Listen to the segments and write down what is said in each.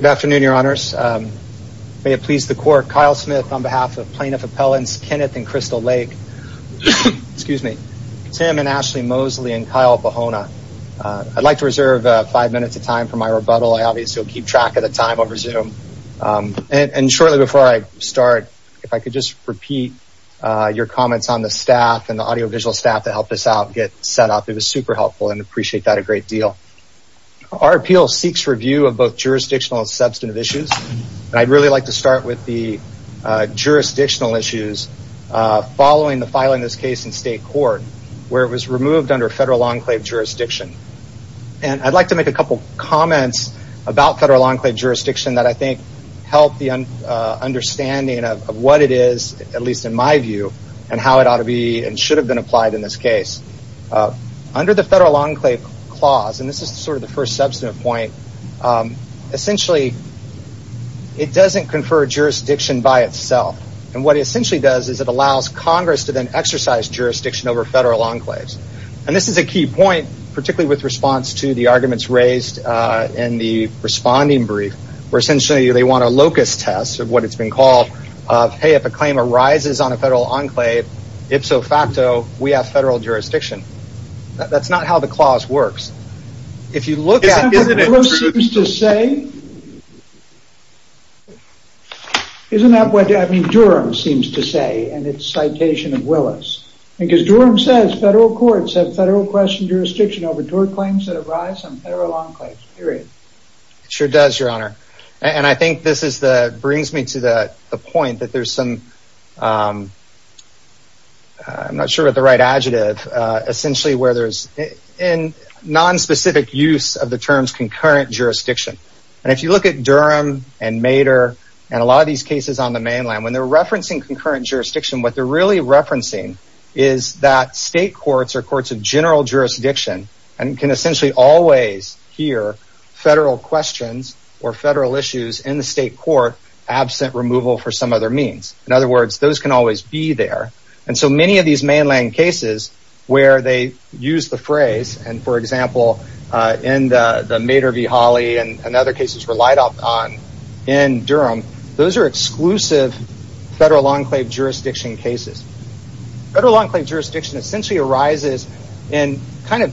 Good afternoon, your honors. May it please the court, Kyle Smith on behalf of Plaintiff Appellants Kenneth and Crystal Lake, Tim and Ashley Mosley and Kyle Ohana. I'd like to reserve five minutes of time for my rebuttal. I obviously will keep track of the time over Zoom. And shortly before I start, if I could just repeat your comments on the staff and the audiovisual staff to help us out get set up. It was super helpful and appreciate that great deal. Our appeal seeks review of both jurisdictional and substantive issues. I'd really like to start with the jurisdictional issues following the filing of this case in state court where it was removed under federal enclave jurisdiction. I'd like to make a couple comments about federal enclave jurisdiction that I think help the understanding of what it is, at least in my view, and how it ought to be and should have been applied in this case. Under the federal enclave clause, and this is the first substantive point, essentially it doesn't confer jurisdiction by itself. What it essentially does is it allows Congress to then exercise jurisdiction over federal enclaves. This is a key point, particularly with response to the arguments raised in the responding brief, where essentially they want a locus test of what it's been called. Hey, if a claim arises on a federal enclave, ipso federal enclave jurisdiction. That's not how the clause works. If you look at... Isn't that what Willis seems to say? Isn't that what Durham seems to say in its citation of Willis? Because Durham says federal courts have federal question jurisdiction over tort claims that arise on federal enclaves, period. It sure does, your honor. I think this brings me to the point that there's some... I'm not sure of the right adjective. Essentially where there's non-specific use of the terms concurrent jurisdiction. If you look at Durham and Mater and a lot of these cases on the mainland, when they're referencing concurrent jurisdiction, what they're really referencing is that state courts are courts of general jurisdiction and can essentially always hear federal questions or federal issues in the state court absent removal for some other means. In other words, those can always be there. Many of these mainland cases where they use the phrase, for example, in the Mater v. Holly and other cases relied on in Durham, those are exclusive federal enclave jurisdiction cases. Federal enclave jurisdiction essentially arises in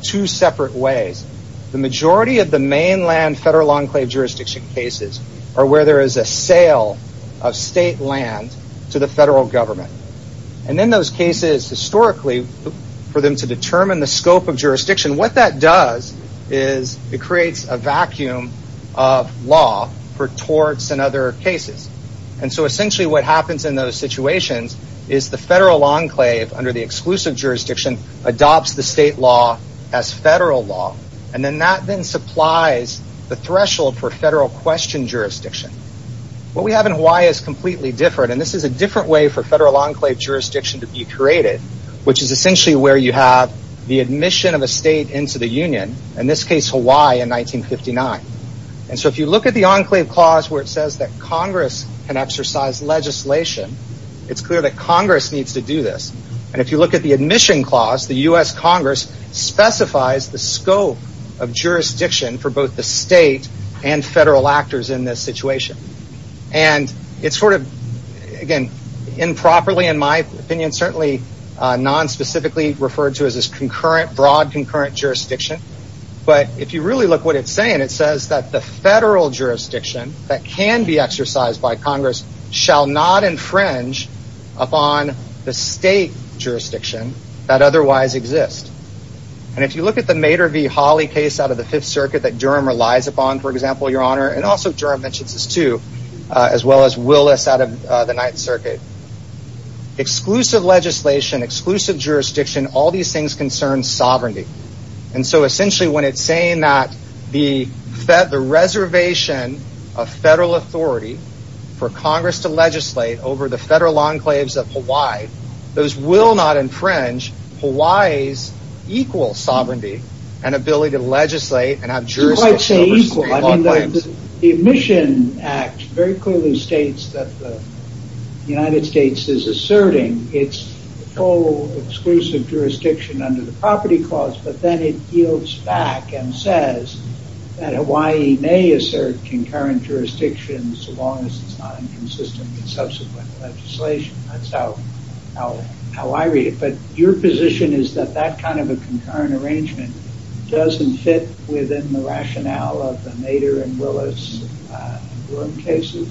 two separate ways. The majority of the mainland federal enclave jurisdiction cases are where there is a sale of state land to the federal government. In those cases, historically, for them to determine the scope of jurisdiction, what that does is it creates a vacuum of law for torts and other cases. Essentially what happens in those situations is the federal enclave under the exclusive jurisdiction adopts the state law as federal law. That then supplies the threshold for federal question jurisdiction. What we have in Hawaii is completely different. This is a different way for federal enclave jurisdiction to be created, which is essentially where you have the admission of a state into the union. In this case, Hawaii in 1959. If you look at the enclave clause where it says that Congress can exercise legislation, it's clear that Congress needs to do this. If you look at the admission clause, the U.S. Congress specifies the scope of jurisdiction for both the state and federal actors in this situation. It's improperly, in my opinion, non-specifically referred to as broad concurrent jurisdiction. If you look at what it's saying, it says that the federal jurisdiction that can be exercised by Congress shall not infringe upon the state jurisdiction that otherwise exists. If you look at the Mader v. Hawley case out of the 5th Circuit that Durham relies upon, for example, your honor, and also Durham mentions this too, as well as Willis out of the 9th Circuit. Exclusive legislation, exclusive jurisdiction, all these things concern sovereignty. Essentially when it's saying that the reservation of federal authority for Congress to legislate over the federal enclaves of Hawaii, those will not infringe Hawaii's equal sovereignty and ability to legislate and have jurisdiction over state enclaves. You might say equal. The admission act very clearly states that the United States is asserting its full exclusive jurisdiction under the property clause, but then it yields back and says that Hawaii may assert concurrent jurisdiction so long as it's not inconsistent with subsequent legislation. That's how I read it. But your position is that that kind of a concurrent arrangement doesn't fit within the rationale of the Mader and Willis cases?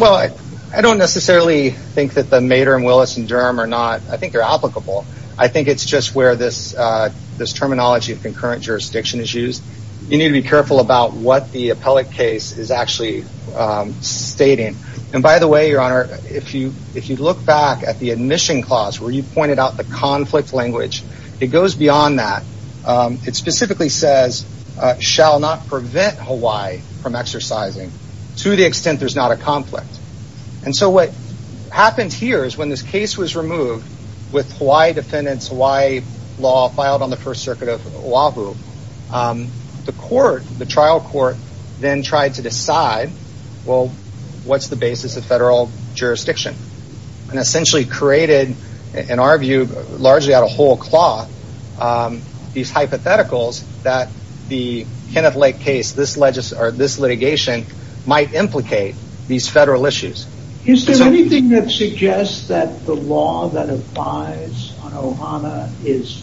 Well, I don't necessarily think that the Mader and Willis in Durham are not, I think they're applicable. I think it's just where this terminology of concurrent jurisdiction is used. You need to be careful about what the appellate case is actually stating. And by the way, your honor, if you look back at the admission clause where you pointed out the conflict language, it goes beyond that. It specifically says, shall not prevent Hawaii from exercising to the extent there's not a conflict. And so what happened here is when this case was removed with Hawaii defendant's Hawaii law filed on the first circuit of Oahu, the trial court then tried to decide, well, what's the basis of federal jurisdiction? And essentially created, in our view, largely out of whole law, these hypotheticals that the Kenneth Lake case, this litigation, might implicate these federal issues. Is there anything that suggests that the law that applies on Ohana is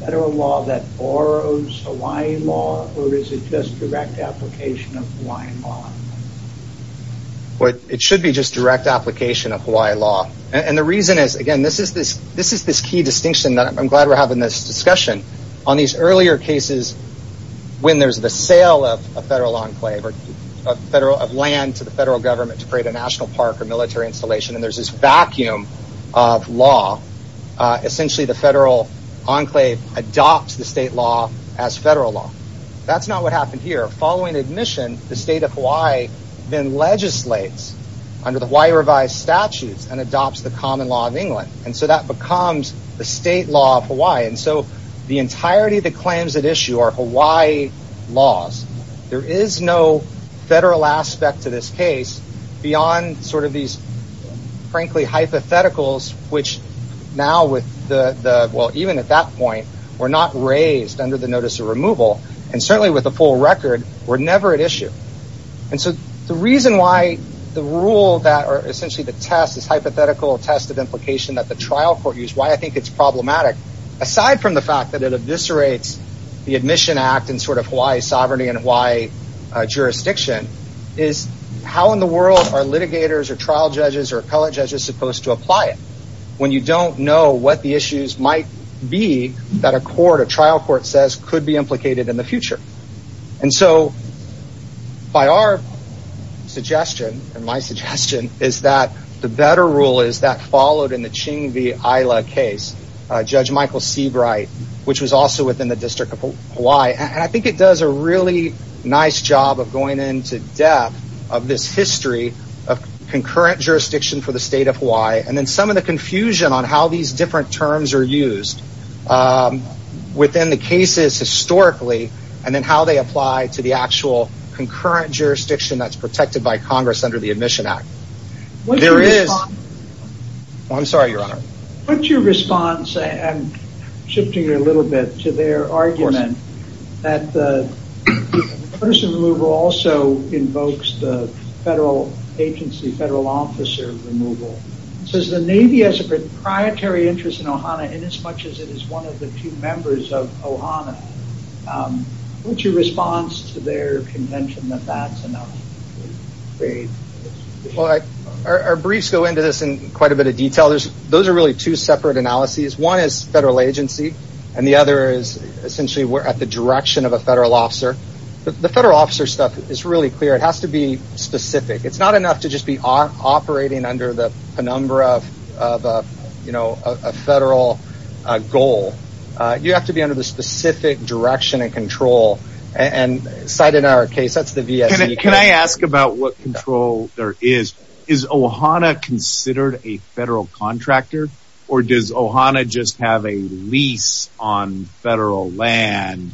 federal law that borrows Hawaii law or is it just direct application of Hawaiian law? It should be just direct application of Hawaii law. And the reason is, again, this is this key distinction that I'm glad we're having this discussion. On these earlier cases, when there's the sale of a federal enclave, of land to the federal government to create a national park or military installation, and there's this vacuum of law, essentially the federal enclave adopts the state law as federal law. That's not what happened here. Following admission, the state of Hawaii then legislates under the Hawaii revised statutes and adopts the common law of England. And so that becomes the state law of Hawaii. And so the entirety of the claims at issue are Hawaii laws. There is no federal aspect to this case beyond sort of these, frankly, hypotheticals, which now with the, well, even at that point were not raised under the notice of removal, and certainly with the full record, were never at issue. And so the reason why the rule that, or essentially the test, this hypothetical test of implication that the trial court used, why I think it's problematic, aside from the fact that it eviscerates the admission act and sort of Hawaii sovereignty and Hawaii jurisdiction, is how in the world are litigators or trial judges or appellate judges supposed to apply it when you don't know what the issues might be that a court, a trial court says could be implicated in the future. And so by our suggestion, and my suggestion, is that the better rule is that followed in the Ching V. Isla case, Judge Michael Seabright, which was also within the District of Hawaii. And I think it does a really nice job of going into depth of this history of concurrent jurisdiction for the state of Hawaii, and then some of the confusion on how these different terms are used within the cases historically, and then how they apply to the actual concurrent jurisdiction that's protected by Congress under the Admission Act. There is... What's your response... I'm sorry, Your Honor. What's your response, I'm shifting a little bit to their argument that the notice of removal also invokes the federal agency, federal officer removal. It says the Navy has a proprietary interest in Ohana in as much as it is one of the two members of Ohana. What's your response to their contention that that's enough? Well, our briefs go into this in quite a bit of detail. Those are really two separate analyses. One is federal agency, and the other is essentially we're at the direction of a federal officer. The federal officer stuff is really clear. It has to be specific. It's not enough to just be operating under the penumbra of a federal goal. You have to be under the specific direction and control. And cited in our case, that's the VSE. Can I ask about what control there is? Is Ohana considered a federal contractor, or does Ohana just have a lease on federal land,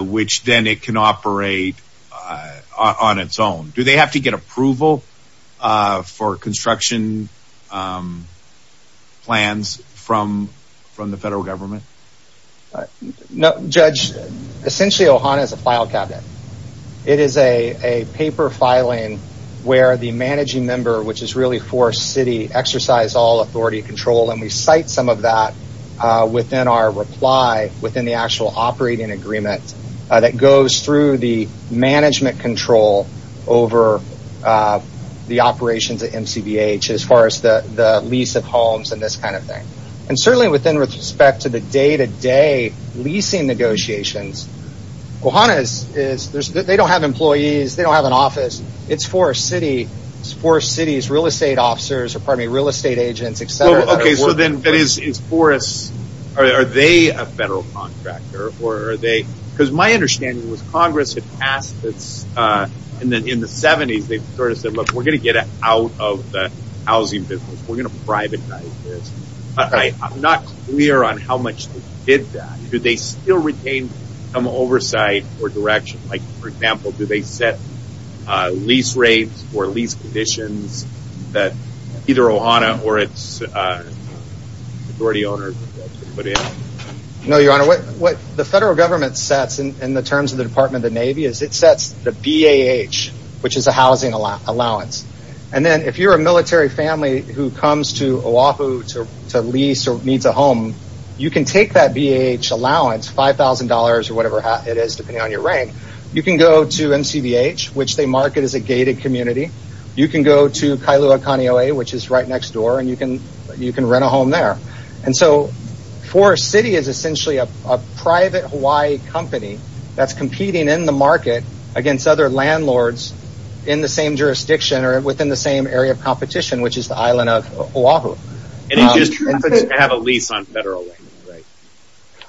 which then it can operate on its own? Do they have to get approval for construction plans from the federal government? No, Judge. Essentially, Ohana is a file cabinet. It is a paper filing where the managing member, which is really for city, exercise all authority control. We cite some of that within our reply within the actual operating agreement that goes through the management control over the operations at MCBH as far as the lease of homes and this kind of thing. Certainly within respect to the day-to-day leasing negotiations, Ohana, they don't have these real estate agents, et cetera. Are they a federal contractor? My understanding was Congress had passed this in the 70s. They sort of said, look, we're going to get out of the housing business. We're going to privatize this. I'm not clear on how much they did that. Do they still retain some oversight or direction? For example, do they set lease rates or lease conditions that either Ohana or its authority owner put in? No, Your Honor. What the federal government sets in the terms of the Department of the Navy is it sets the BAH, which is a housing allowance. Then if you're a military family who comes to Oahu to lease or needs a home, you can take that BAH allowance, $5,000 or you can go to Kailua-Kaneohe, which is right next door, and you can rent a home there. So Forest City is essentially a private Hawaii company that's competing in the market against other landlords in the same jurisdiction or within the same area of competition, which is the island of Oahu. And it just happens to have a lease on federal land, right?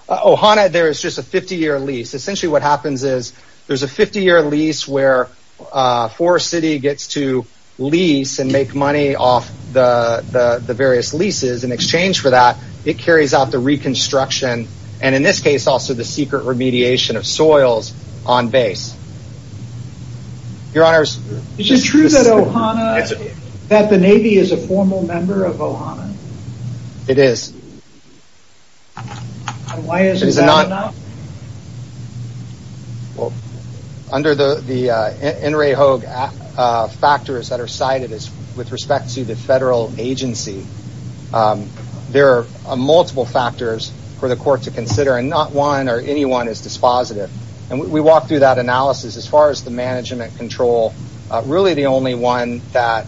Ohana, there is just a 50-year lease. Essentially what happens is there's a 50-year lease where Forest City gets to lease and make money off the various leases. In exchange for that, it carries out the reconstruction, and in this case also the secret remediation of soils on base. Is it true that Ohana, that the Navy is a formal member of Ohana? It is. And why isn't that enough? Well, under the NRA HOAG factors that are cited with respect to the federal agency, there are multiple factors for the court to consider, and not one or anyone is dispositive. And we walked through that analysis. As far as the management control, really the only one that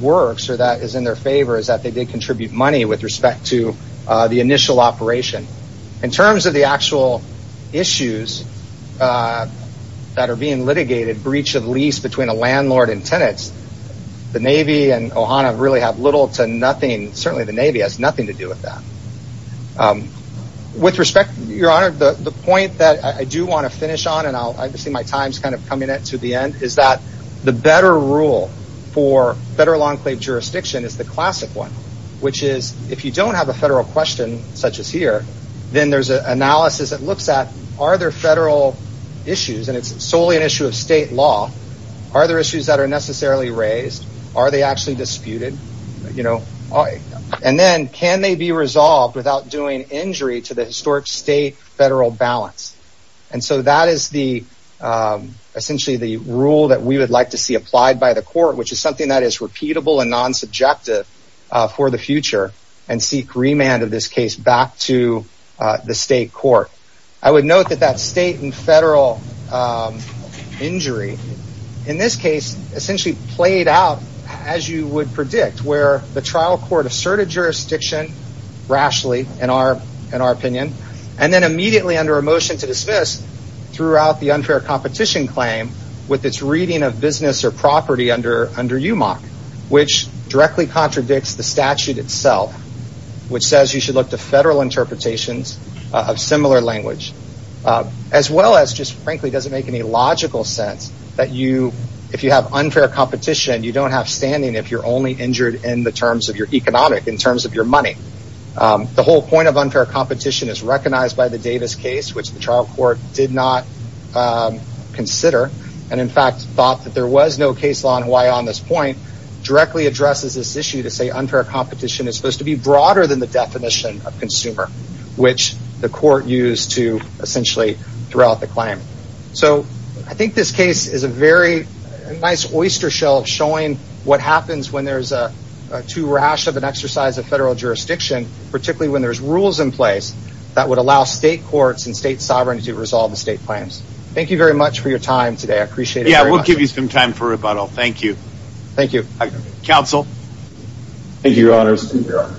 works or that is in their favor is that they did contribute money with respect to the initial operation. In terms of the actual issues that are being litigated, breach of lease between a landlord and tenants, the Navy and Ohana really have little to nothing, certainly the Navy has nothing to do with that. With respect, Your Honor, the point that I do want to finish on, and I see my time is kind of coming to the end, is that the better rule for federal enclave jurisdiction is the Then there's an analysis that looks at, are there federal issues, and it's solely an issue of state law, are there issues that are necessarily raised? Are they actually disputed? And then, can they be resolved without doing injury to the historic state-federal balance? And so that is essentially the rule that we would like to see applied by the court, which is something that is repeatable and non-subjective for the future, and seek remand of this case back to the state court. I would note that that state and federal injury, in this case, essentially played out as you would predict, where the trial court asserted jurisdiction rashly, in our opinion, and then immediately under a motion to dismiss, threw out the unfair competition claim with its reading of business or property under UMAC, which directly contradicts the statute itself, which says you should look to federal interpretations of similar language, as well as just frankly doesn't make any logical sense that if you have unfair competition, you don't have standing if you're only injured in the terms of your economic, in terms of your money. The whole point of unfair competition is recognized by the Davis case, which the trial court did not consider, and in fact thought that there was no case law in Hawaii on this point, directly addresses this issue to say unfair competition is supposed to be broader than the definition of consumer, which the court used to essentially throw out the claim. I think this case is a very nice oyster shell showing what happens when there's too rash of an exercise of federal jurisdiction, particularly when there's rules in place that would allow state courts and state sovereignty to resolve the state claims. Thank you very much for your time today. I appreciate it very much. Yeah. We'll give you some time for rebuttal. Thank you. Thank you. Council. Thank you, your honors.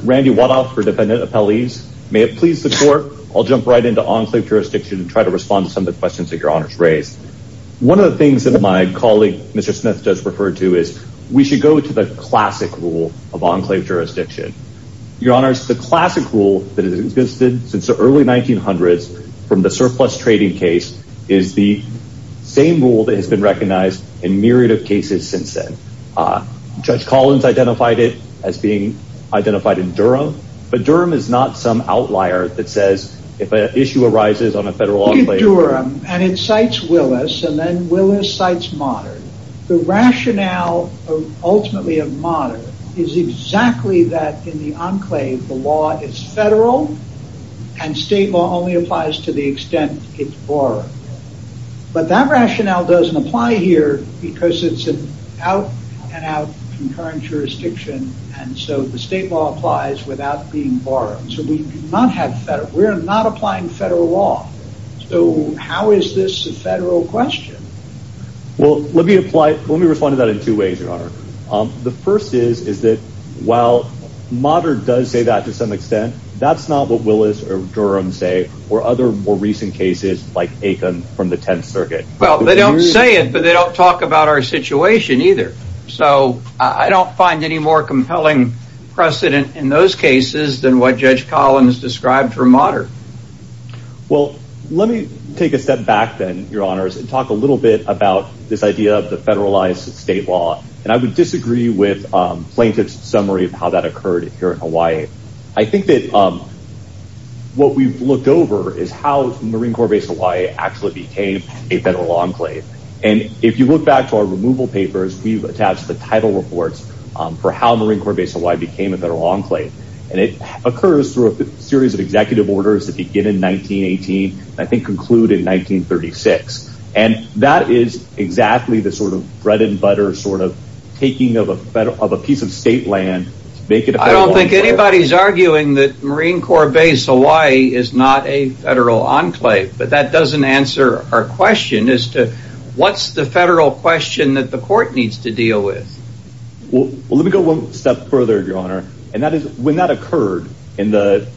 Randy Wadoff for defendant appellees. May it please the court. I'll jump right into enclave jurisdiction and try to respond to some of the questions that your honors raised. One of the things that my colleague, Mr. Smith does refer to is we should go to the classic rule of enclave jurisdiction. Your honors, the classic rule that has existed since the early 1900s from the surplus trading case is the same rule that has been recognized in myriad of cases since then. Judge Collins identified it as being identified in Durham, but Durham is not some outlier that says if an issue arises on a federal enclave- In Durham, and it cites Willis, and then Willis cites Modern, the rationale of ultimately of Modern is exactly that in the enclave, the law is federal and state law only applies to the extent it's borrowed, but that rationale doesn't apply here because it's an out and out concurrent jurisdiction, and so the state law applies without being borrowed, so we do not have federal, we're not applying federal law, so how is this a federal question? Well, let me apply, let me respond to that in two ways, your honor. The first is, is that while Modern does say that to some extent, that's not what Willis or Durham say, or other more recent cases like Aitken from the 10th circuit. Well, they don't say it, but they don't talk about our situation either, so I don't find any more compelling precedent in those cases than what Judge Collins described for Modern. Well, let me take a step back then, your honors, and talk a little bit about this idea of the federalized state law, and I would disagree with plaintiff's summary of how that occurred here in Hawaii. I think that what we've looked over is how Marine Corps Base Hawaii actually became a federal enclave, and if you look back to our removal papers, we've attached the title reports for how Marine Corps Base Hawaii became a federal enclave, and it occurs through a series of executive orders that begin in 1918, and I think conclude in 1936, and that is exactly the sort of bread and butter sort of taking of a piece of state land to make it a federal enclave. Hawaii is arguing that Marine Corps Base Hawaii is not a federal enclave, but that doesn't answer our question as to what's the federal question that the court needs to deal with. Well, let me go one step further, your honor, and that is when that occurred in the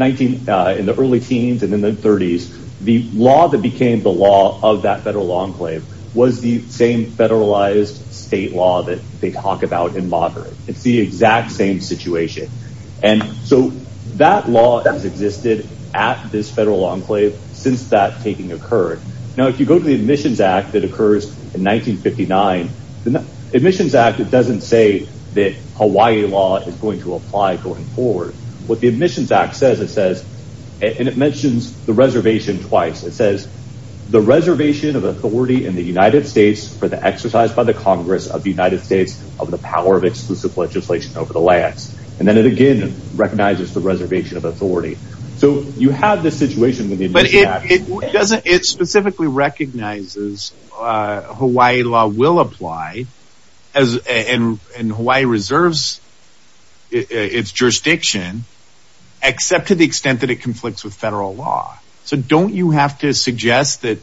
early teens and in the 30s, the law that became the law of that federal enclave was the same and so that law has existed at this federal enclave since that taking occurred. Now, if you go to the Admissions Act that occurs in 1959, the Admissions Act doesn't say that Hawaii law is going to apply going forward. What the Admissions Act says, it says, and it mentions the reservation twice, it says, the reservation of authority in the United States for the exercise by the Congress of the United States of the power of exclusive legislation over the lands, and then it again recognizes the reservation of authority. So you have this situation with the Admissions Act. It specifically recognizes Hawaii law will apply and Hawaii reserves its jurisdiction except to the extent that it conflicts with federal law. So don't you have to suggest that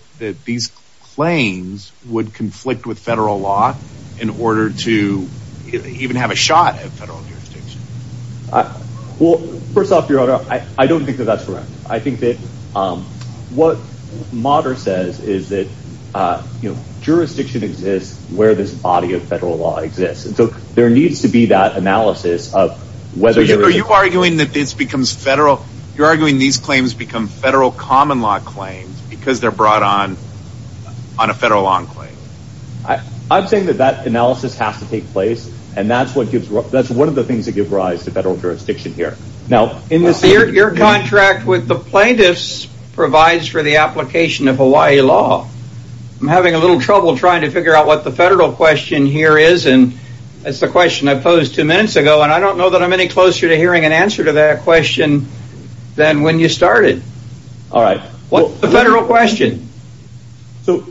these claims would conflict with federal law in order to even have a shot at federal jurisdiction? Well, first off, your honor, I don't think that that's correct. I think that what Motter says is that jurisdiction exists where this body of federal law exists. And so there needs to be that analysis of whether jurisdiction exists. So are you arguing that this becomes federal, you're arguing these claims become federal common law claims because they're brought on on a federal law enclave? I'm saying that that analysis has to take place. And that's what gives that's one of the things that give rise to federal jurisdiction here. Now in this year, your contract with the plaintiffs provides for the application of Hawaii law. I'm having a little trouble trying to figure out what the federal question here is. And that's the question I posed two minutes ago. And I don't know that I'm any closer to hearing an answer to that question than when you started. All right. What's the federal question? So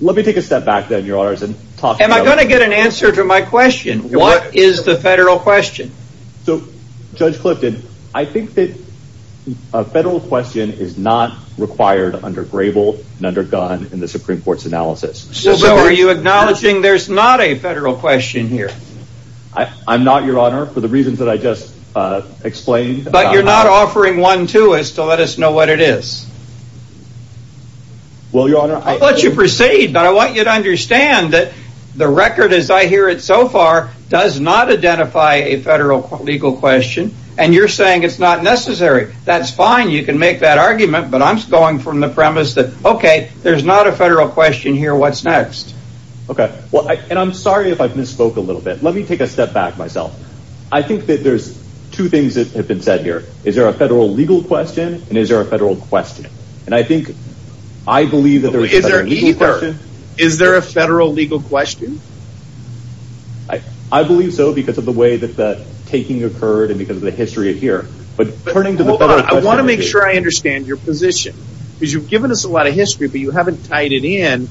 let me take a step back then, your honors, and am I going to get an answer to my question? What is the federal question? So Judge Clifton, I think that a federal question is not required under Grable and undergone in the Supreme Court's analysis. So are you acknowledging there's not a federal question here? I'm not, your honor, for the reasons that I just explained, but you're not offering one to us to let us know what it is. Well your honor, I'll let you proceed, but I want you to understand that the record as I hear it so far does not identify a federal legal question. And you're saying it's not necessary. That's fine. You can make that argument. But I'm going from the premise that, okay, there's not a federal question here. What's next? Okay. Well, and I'm sorry if I've misspoke a little bit. Let me take a step back myself. I think that there's two things that have been said here. Is there a federal legal question and is there a federal question? And I think, I believe that there is a federal legal question. Is there a federal legal question? I believe so because of the way that the taking occurred and because of the history here. But turning to the federal question. Hold on. I want to make sure I understand your position. Because you've given us a lot of history, but you haven't tied it in.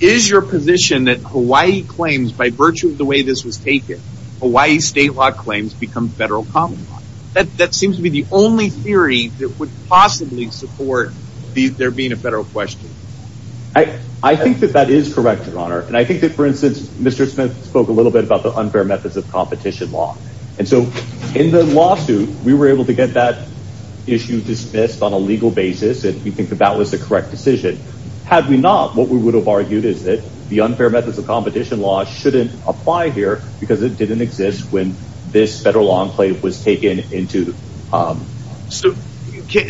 Is your position that Hawaii claims, by virtue of the way this was taken, Hawaii state law claims become federal common law? That seems to be the only theory that would possibly support there being a federal question. I think that that is correct, your honor. And I think that, for instance, Mr. Smith spoke a little bit about the unfair methods of competition law. And so in the lawsuit, we were able to get that issue dismissed on a legal basis. And we think that that was the correct decision. Had we not, what we would have argued is that the unfair methods of competition law shouldn't apply here because it didn't exist when this federal enclave was taken into.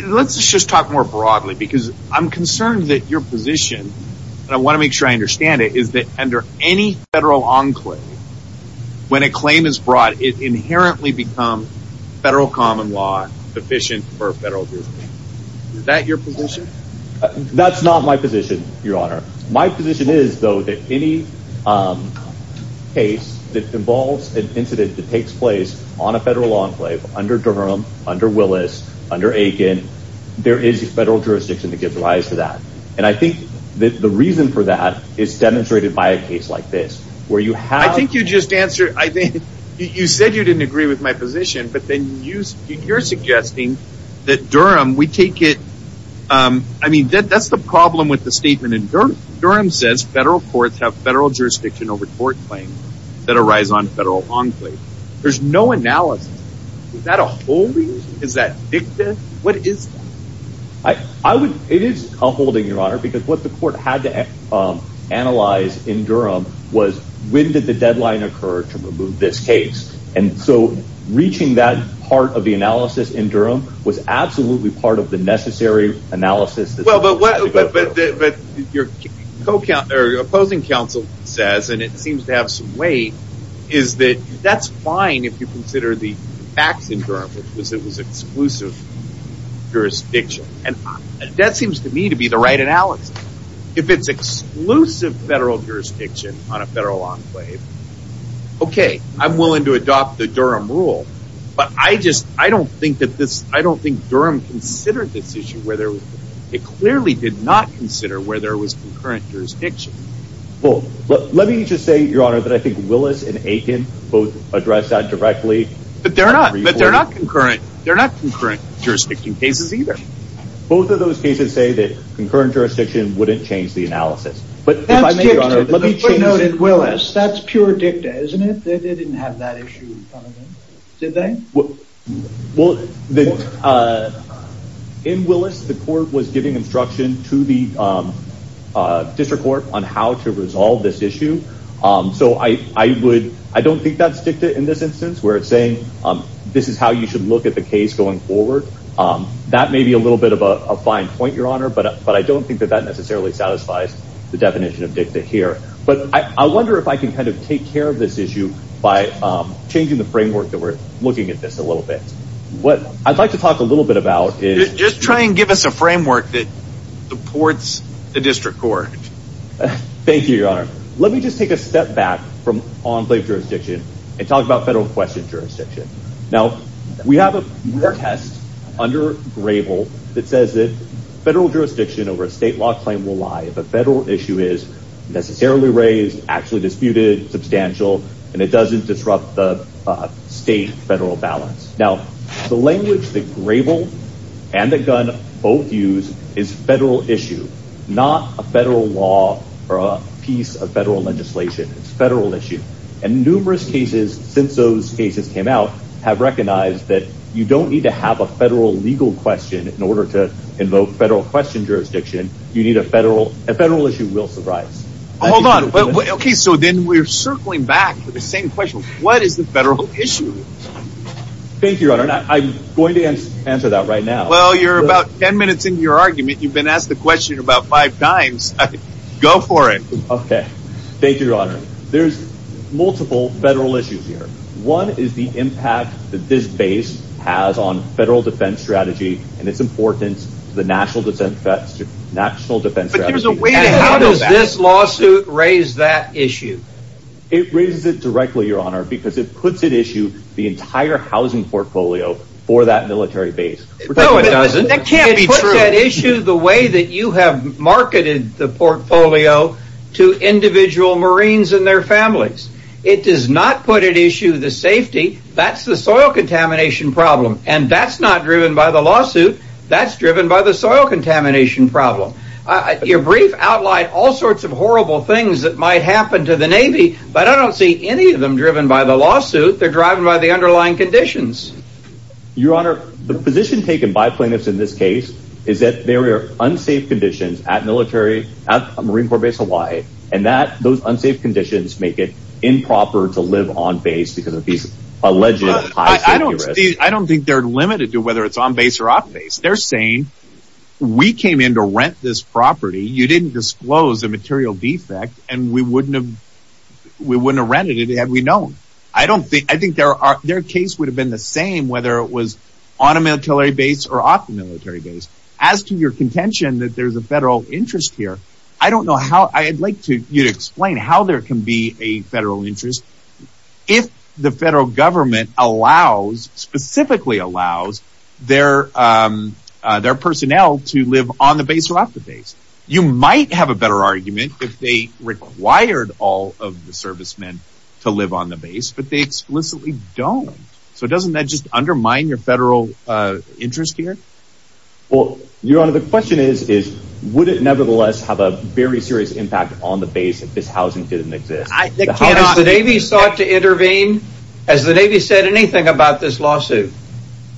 Let's just talk more broadly because I'm concerned that your position, and I want to make sure I understand it, is that under any federal enclave, when a claim is brought, it inherently become federal common law sufficient for federal jurisdiction. Is that your position? That's not my position, your honor. My position is, though, that any case that involves an incident that takes place on a federal enclave under Durham, under Willis, under Aiken, there is federal jurisdiction to give rise to that. And I think that the reason for that is demonstrated by a case like this, where you have- I think you just answered, you said you didn't agree with my position, but then you're suggesting that Durham, we take it- I mean, that's the problem with the statement in Durham. Durham says federal courts have federal jurisdiction over court claims that arise on federal enclave. There's no analysis. Is that a holding? Is that dicta? What is that? I would- it is a holding, your honor, because what the court had to analyze in Durham was when did the deadline occur to remove this case? And so reaching that part of the analysis in Durham was absolutely part of the necessary analysis- Well, but your opposing counsel says, and it seems to have some weight, is that that's fine if you consider the facts in Durham, which was it was exclusive jurisdiction. And that seems to me to be the right analysis. If it's exclusive federal jurisdiction on a federal enclave, okay, I'm willing to adopt the Durham rule, but I just- I don't think that this- I don't think Durham considered this issue where there- it clearly did not consider where there was concurrent jurisdiction. Well, let me just say, your honor, that I think Willis and Aitken both addressed that directly- But they're not- but they're not concurrent. They're not concurrent jurisdiction cases either. Both of those cases say that concurrent jurisdiction wouldn't change the analysis. But if I may, your honor- That's dicta. The court noted Willis. That's pure dicta, isn't it? They didn't have that issue, did they? Well, in Willis, the court was giving instruction to the district court on how to resolve this issue. So I would- I don't think that's dicta in this instance where it's saying, this is how you should look at the case going forward. That may be a little bit of a fine point, your honor, but I don't think that that necessarily satisfies the definition of dicta here. But I wonder if I can kind of take care of this issue by changing the framework that we're looking at this a little bit. What I'd like to talk a little bit about is- Just try and give us a framework that supports the district court. Thank you, your honor. Let me just take a step back from on-plate jurisdiction and talk about federal question jurisdiction. Now, we have a test under Grable that says that federal jurisdiction over a state law claim will lie if a federal issue is necessarily raised, actually disputed, substantial, and it doesn't disrupt the state-federal balance. Now, the language that Grable and that Gunn both use is federal issue, not a federal law or a piece of federal legislation. It's a federal issue. And numerous cases, since those cases came out, have recognized that you don't need to have a federal legal question in order to invoke federal question jurisdiction. You need a federal- a federal issue will surprise. Hold on. Okay, so then we're circling back to the same question. What is the federal issue? Thank you, your honor. I'm going to answer that right now. Well, you're about 10 minutes into your argument. You've been asked the question about five times. Go for it. Okay. Thank you, your honor. There's multiple federal issues here. One is the impact that this base has on federal defense strategy and its importance to the national defense strategy. But there's a way to handle that. And how does this lawsuit raise that issue? It raises it directly, your honor, because it puts at issue the entire housing portfolio for that military base. We're talking about- No, it doesn't. That can't be true. It does not put at issue the way that you have marketed the portfolio to individual Marines and their families. It does not put at issue the safety. That's the soil contamination problem. And that's not driven by the lawsuit. That's driven by the soil contamination problem. Your brief outlined all sorts of horrible things that might happen to the Navy. But I don't see any of them driven by the lawsuit. They're driven by the underlying conditions. Your honor, the position taken by plaintiffs in this case is that there are unsafe conditions at military, at Marine Corps Base Hawaii, and that those unsafe conditions make it improper to live on base because of these alleged high safety risks. I don't think they're limited to whether it's on base or off base. They're saying, we came in to rent this property. You didn't disclose the material defect and we wouldn't have rented it had we known. I think their case would have been the same whether it was on a military base or off the military base. As to your contention that there's a federal interest here, I don't know how. I'd like you to explain how there can be a federal interest if the federal government allows, specifically allows, their personnel to live on the base or off the base. You might have a better argument if they required all of the servicemen to live on the base, but they explicitly don't. So doesn't that just undermine your federal interest here? Well, your honor, the question is, is would it nevertheless have a very serious impact on the base if this housing didn't exist? Has the Navy sought to intervene? Has the Navy said anything about this lawsuit?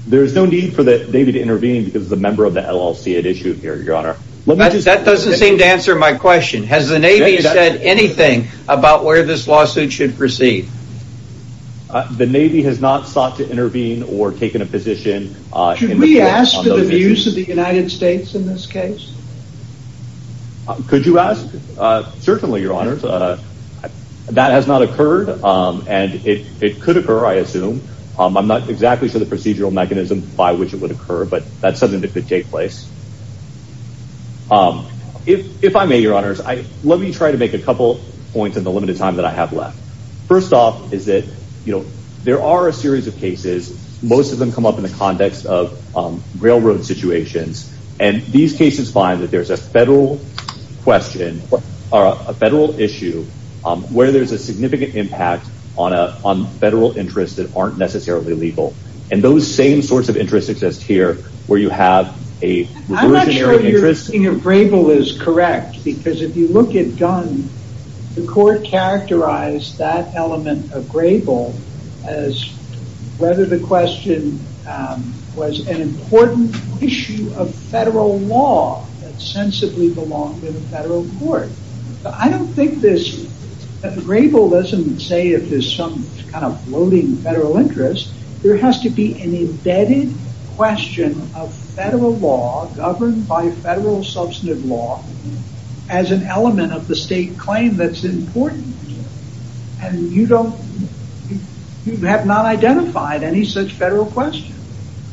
There's no need for the Navy to intervene because it's a member of the LLC it issued here, your honor. That doesn't seem to answer my question. Has the Navy said anything about where this lawsuit should proceed? The Navy has not sought to intervene or taken a position. Should we ask for the views of the United States in this case? Could you ask? Certainly, your honor. That has not occurred and it could occur, I assume. I'm not exactly sure the procedural mechanism by which it would occur, but that's something that could take place. If I may, your honors, let me try to make a couple points in the limited time that I have left. First off is that there are a series of cases. Most of them come up in the context of railroad situations. These cases find that there's a federal question or a federal issue where there's a significant impact on federal interests that aren't necessarily legal. Those same sorts of interests exist here where you have a reversionary interest. I'm not sure your thinking of Grable is correct because if you look at Gunn, the court characterized that element of Grable as whether the question was an important issue of federal law that sensibly belonged to the federal court. I don't think this Grable doesn't say if there's some kind of floating federal interest. There has to be an embedded question of federal law governed by federal substantive law as an element of the state claim that's important. You have not identified any such federal question.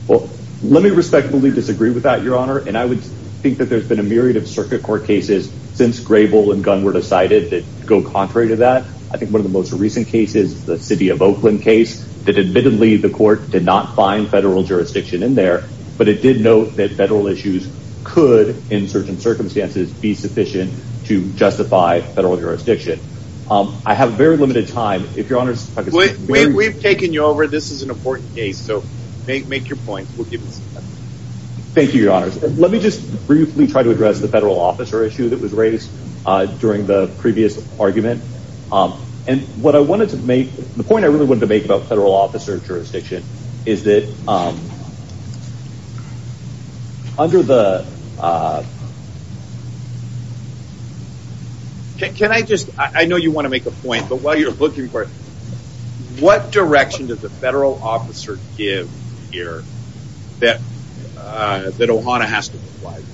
Let me respectfully disagree with that, your honor. I would think that there's been a myriad of circuit court cases since Grable and Gunn were decided that go contrary to that. I think one of the most recent cases, the city of Oakland case, that admittedly the court did not find federal jurisdiction in there, but it did note that federal issues could in certain circumstances be sufficient to justify federal jurisdiction. I have very limited time. If your honors... We've taken you over. This is an important case. Make your point. Thank you, your honors. Let me just briefly try to address the federal officer issue that was raised during the previous argument. The point I really wanted to make about federal officer jurisdiction is that under the... Can I just... I know you want to make a point, but while you're looking for it, what direction does the federal officer give here that OHANA has to provide?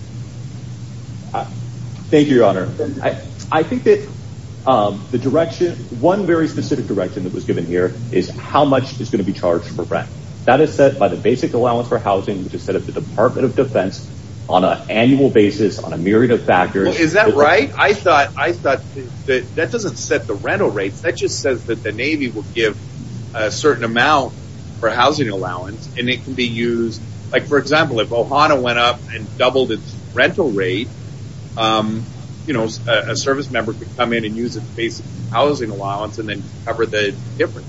Thank you, your honor. I think that the direction, one very specific direction that was given here is how much is going to be charged for rent. That is set by the basic allowance for housing, which is set up the Department of Defense on an annual basis on a myriad of factors. Is that right? I thought that doesn't set the rental rates. That just says that the Navy will give a certain amount for housing allowance and it can be used... For example, if OHANA went up and doubled its rental rate, a service member could come in and use its basic housing allowance and then cover the difference.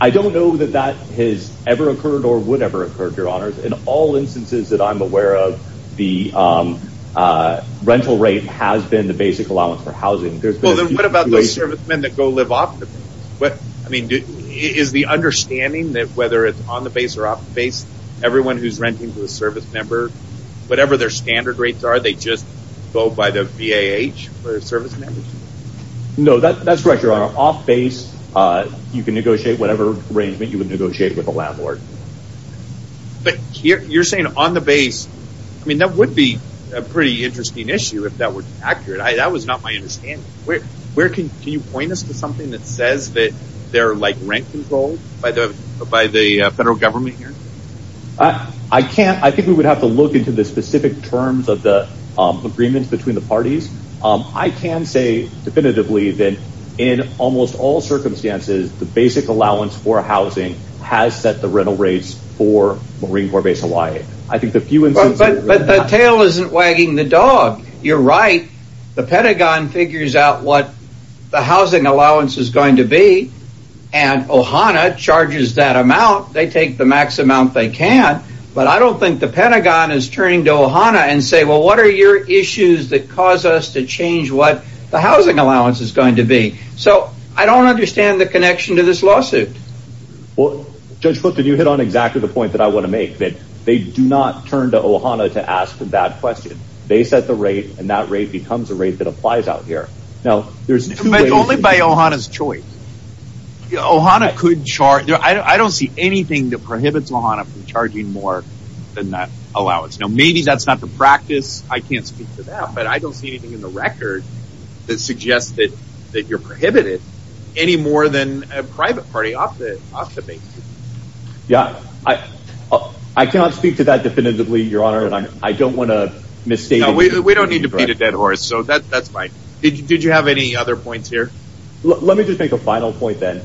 I don't know that that has ever occurred or would ever occur, your honors. In all instances that I'm aware of, the rental rate has been the basic allowance for housing. What about those servicemen that go live off the base? I mean, is the understanding that whether it's on the base or off the base, everyone who's renting to a service member, whatever their standard rates are, they just go by the VAH for service members? No, that's correct, your honor. Off base, you can negotiate whatever arrangement you would negotiate with a landlord. You're saying on the base, I mean, that would be a pretty interesting issue if that were accurate. That was not my understanding. Can you point us to something that says that they're like rent controlled by the federal government here? I can't. I think we would have to look into the specific terms of the agreements between the parties. I can say definitively that in almost all circumstances, the basic allowance for housing has set the rental rates for Marine Corps Base Hawaii. I think the few instances... But the tail isn't wagging the dog. You're right. The Pentagon figures out what the housing allowance is going to be, and OHANA charges that amount. They take the max amount they can, but I don't think the Pentagon is turning to OHANA and saying, well, what are your issues that cause us to change what the housing allowance is going to be? So, I don't understand the connection to this lawsuit. Judge Cook, did you hit on exactly the point that I want to make, that they do not turn to OHANA to ask the bad question. They set the rate, and that rate becomes a rate that applies out here. It's only by OHANA's choice. OHANA could charge... I don't see anything that prohibits OHANA from charging more than that allowance. Maybe that's not the practice. I can't speak to that, but I don't see anything in the record that suggests that you're prohibited any more than a private party off the base. I cannot speak to that definitively, Your Honor. I don't want to misstate... We don't need to beat a dead horse, so that's fine. Did you have any other points here? Let me just make a final point, then.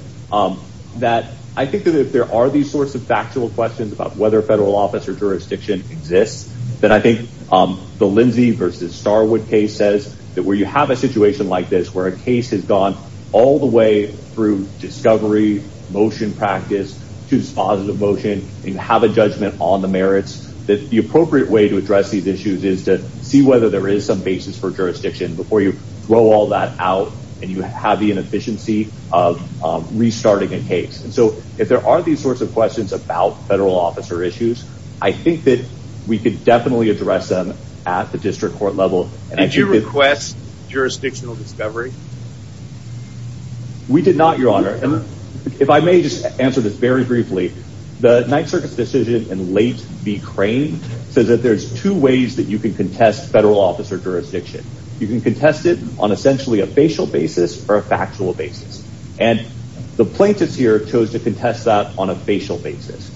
I think that if there are these sorts of factual questions about whether a federal office or jurisdiction exists, then I think the Lindsey v. Starwood case says that where you have a situation like this, where a case has gone all the way through discovery, motion practice, choose positive motion, and have a judgment on the merits, that the appropriate way to address these issues is to see whether there is some basis for jurisdiction before you throw all that out and you have the inefficiency of restarting a case. If there are these sorts of questions about federal officer issues, I think that we could definitely address them at the district court level. Did you request jurisdictional discovery? We did not, Your Honor. If I may just answer this very briefly, the Ninth Circuit's decision in late B. Crane says that there's two ways that you can contest federal officer jurisdiction. You can contest it on essentially a facial basis or a factual basis. The plaintiffs here chose to contest that on a facial basis.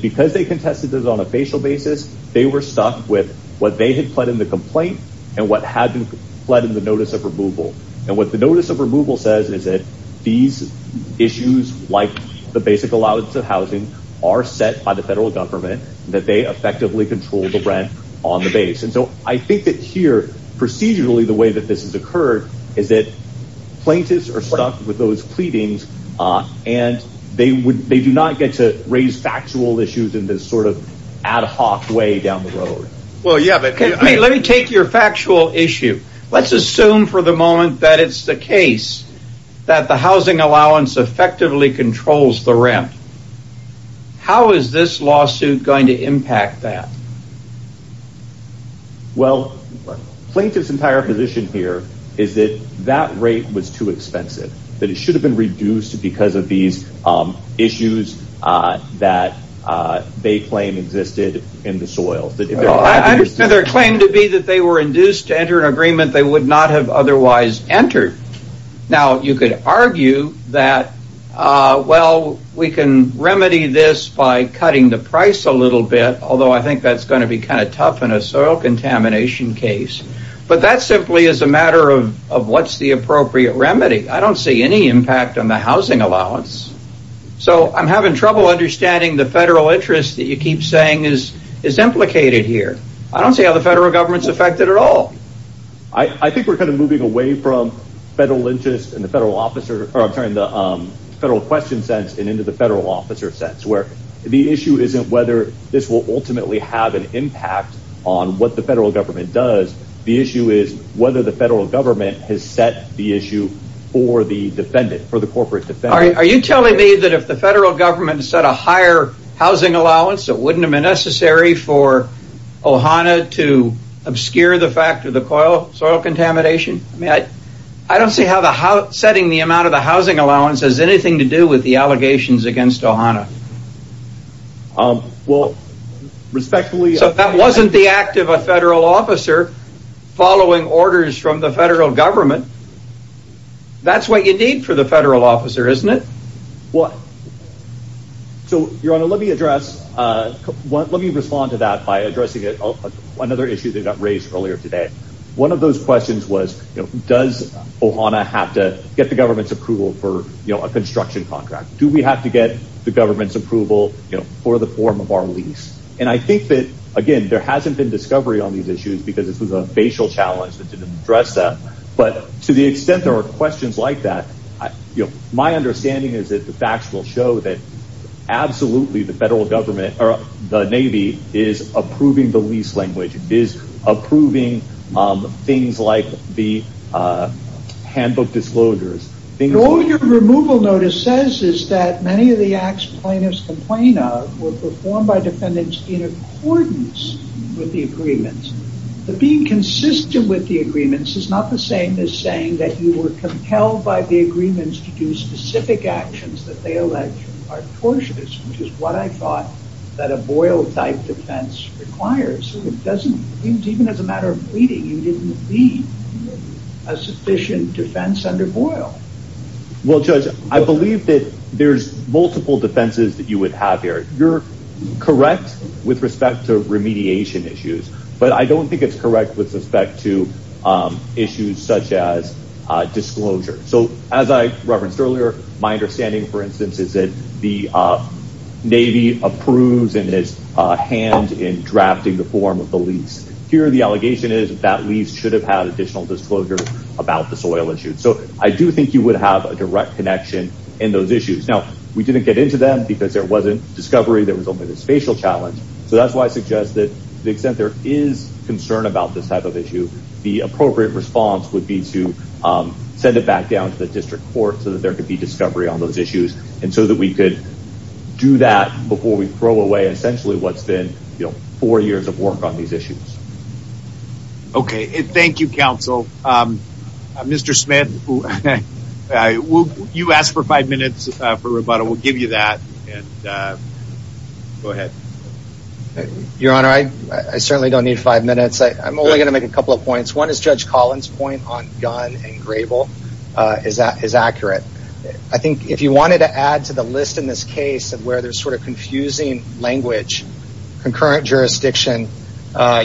Because they contested it on a facial basis, they were stuck with what they had pled in the complaint and what had been pled in the notice of removal. What the notice of removal says is that these issues, like the basic allowance of housing, are set by the federal government and that they effectively control the rent on the base. I think that here, procedurally, the way that this has occurred is that plaintiffs are stuck with those pleadings and they do not get to raise factual issues in this sort of ad hoc way down the road. Let me take your factual issue. Let's assume for the moment that it's the case that the housing allowance effectively controls the rent. How is this lawsuit going to impact that? Well, plaintiff's entire position here is that that rate was too expensive, that it should have been reduced because of these issues that they claim existed in the soil. I understand their claim to be that they were induced to enter an agreement they would not have otherwise entered. Now, you could argue that, well, we can remedy this by cutting the price a little bit, although I think that's going to be kind of tough in a soil contamination case. But that simply is a matter of what's the appropriate remedy. I don't see any impact on the housing allowance. So I'm having trouble understanding the federal interest that you keep saying is implicated here. I don't see how the federal government's affected at all. I think we're kind of moving away from federal interest in the federal question sense and into the federal officer sense, where the issue isn't whether this will ultimately have an impact on what the federal government does. The issue is whether the federal government has set the issue for the defendant, for the corporate defendant. Are you telling me that if the federal government set a higher housing allowance, it wouldn't have been necessary for OHANA to obscure the fact of the soil contamination? I don't see how setting the amount of the housing allowance has anything to do with the allegations against OHANA. Well, respectfully... So if that wasn't the act of a federal officer following orders from the federal government, that's what you need for the federal officer, isn't it? Your Honor, let me respond to that by addressing another issue that got raised earlier today. One of those questions was, does OHANA have to get the government's approval for a construction contract? Do we have to get the government's approval for the form of our lease? I think that, again, there hasn't been discovery on these issues because this was a facial challenge that didn't address that. But to the extent there are questions like that, my understanding is that the facts will show that absolutely the federal government, or the Navy, is approving the lease language, is approving things like the handbook disclosures. All your removal notice says is that many of the acts plaintiffs complain of were performed by defendants in accordance with the agreements. But being consistent with the agreements is not the same as saying that you were compelled by the agreements to do specific actions that they allege are tortious, which is what I thought that a Boyle-type defense requires. So it doesn't, even as a matter of pleading, you didn't plead a sufficient defense under Boyle. Well, Judge, I believe that there's multiple defenses that you would have here. You're correct with respect to remediation issues, but I don't think it's correct with respect to issues such as disclosure. So as I referenced earlier, my understanding, for instance, is that the Navy approves and is hand in drafting the form of the lease. Here the allegation is that lease should have had additional disclosure about the soil issue. So I do think you would have a direct connection in those issues. Now, we didn't get into them because there wasn't discovery, there was only this facial challenge. So that's why I suggest that to the extent there is concern about this type of issue, the appropriate response would be to send it back down to the district court so that there could be discovery on those issues and so that we could do that before we throw away essentially what's been four years of work on these issues. Okay. Thank you, counsel. Mr. Smith, you asked for five minutes for rebuttal. We'll give you that and go ahead. Your Honor, I certainly don't need five minutes. I'm only going to make a couple of points. One is Judge Collins' point on Gunn and Grable is accurate. I think if you wanted to add to the list in this case of where there's sort of confusing language, concurrent jurisdiction,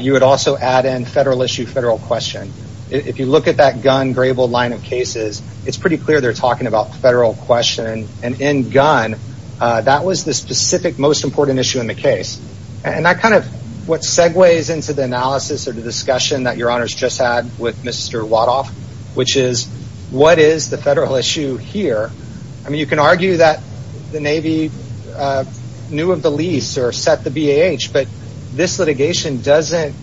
you would also add in federal issue, federal question. If you look at that Gunn, Grable line of cases, it's pretty clear they're talking about federal question. And in Gunn, that was the specific most important issue in the case. And that kind of what segues into the analysis or the discussion that Your Honor's just had with Mr. Waddoff, which is what is the federal issue here, I mean, you can argue that the Navy knew of the lease or set the BAH, but this litigation doesn't,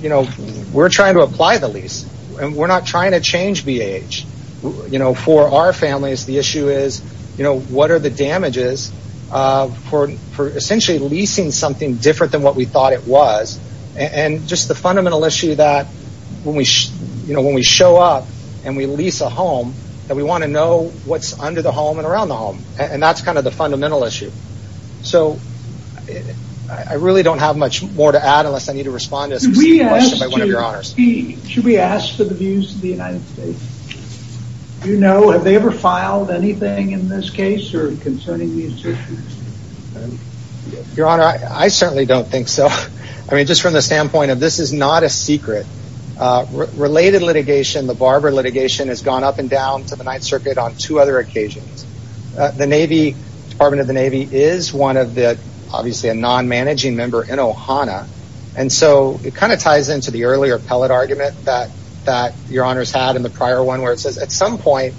you know, we're trying to apply the lease and we're not trying to change BAH. You know, for our families, the issue is, you know, what are the damages for essentially leasing something different than what we thought it was. And just the fundamental issue that when we, you know, when we show up and we lease a home that we want to know what's under the home and around the home. And that's kind of the fundamental issue. So I really don't have much more to add unless I need to respond to a specific question by one of Your Honors. Should we ask for the views of the United States? Do you know, have they ever filed anything in this case or concerning these issues? Your Honor, I certainly don't think so. I mean, just from the standpoint of this is not a secret. Related litigation, the Barber litigation has gone up and down to the Ninth Circuit on two other occasions. The Navy, Department of the Navy is one of the, obviously a non-managing member in Ohana. And so it kind of ties into the earlier pellet argument that Your Honors had in the prior one where it says at some point,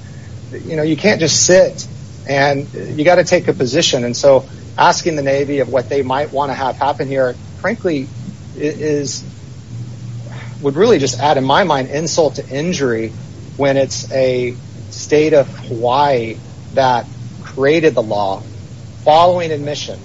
you know, you can't just sit and you got to take a position. And so asking the Navy of what they might want to have happen here frankly is, would really just add in my mind insult to injury when it's a state of Hawaii that created the law following admission.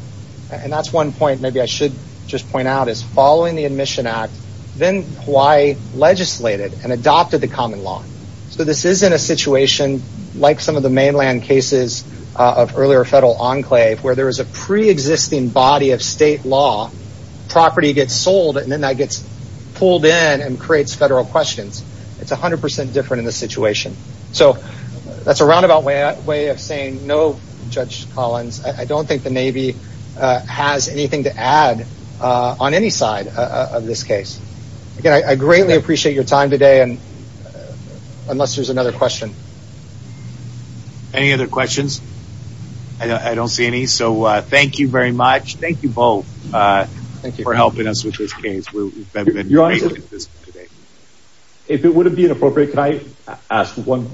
And that's one point maybe I should just point out is following the Admission Act, then Hawaii legislated and adopted the common law. So this isn't a situation like some of the mainland cases of earlier federal enclave where there is a pre-existing body of state law, property gets sold and then that gets pulled in and creates federal questions. It's 100% different in this situation. So that's a roundabout way of saying no, Judge Collins. I don't think the Navy has anything to add on any side of this case. Again, I greatly appreciate your time today and unless there's another question. Any other questions? I don't see any. So thank you very much. Thank you both for helping us with this case. Your Honors, if it wouldn't be inappropriate, can I ask one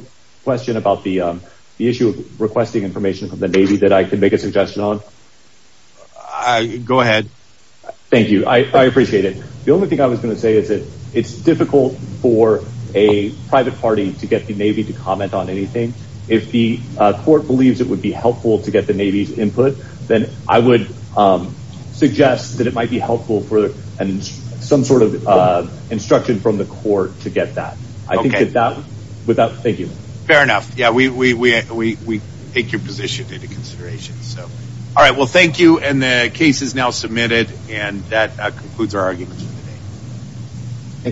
question about the issue of getting information from the Navy that I can make a suggestion on? Go ahead. Thank you. I appreciate it. The only thing I was going to say is that it's difficult for a private party to get the Navy to comment on anything. If the court believes it would be helpful to get the Navy's input, then I would suggest that it might be helpful for some sort of instruction from the court to get that. I think that that would help. Thank you. Fair enough. We take your position into consideration. Thank you. The case is now submitted and that concludes our arguments for today.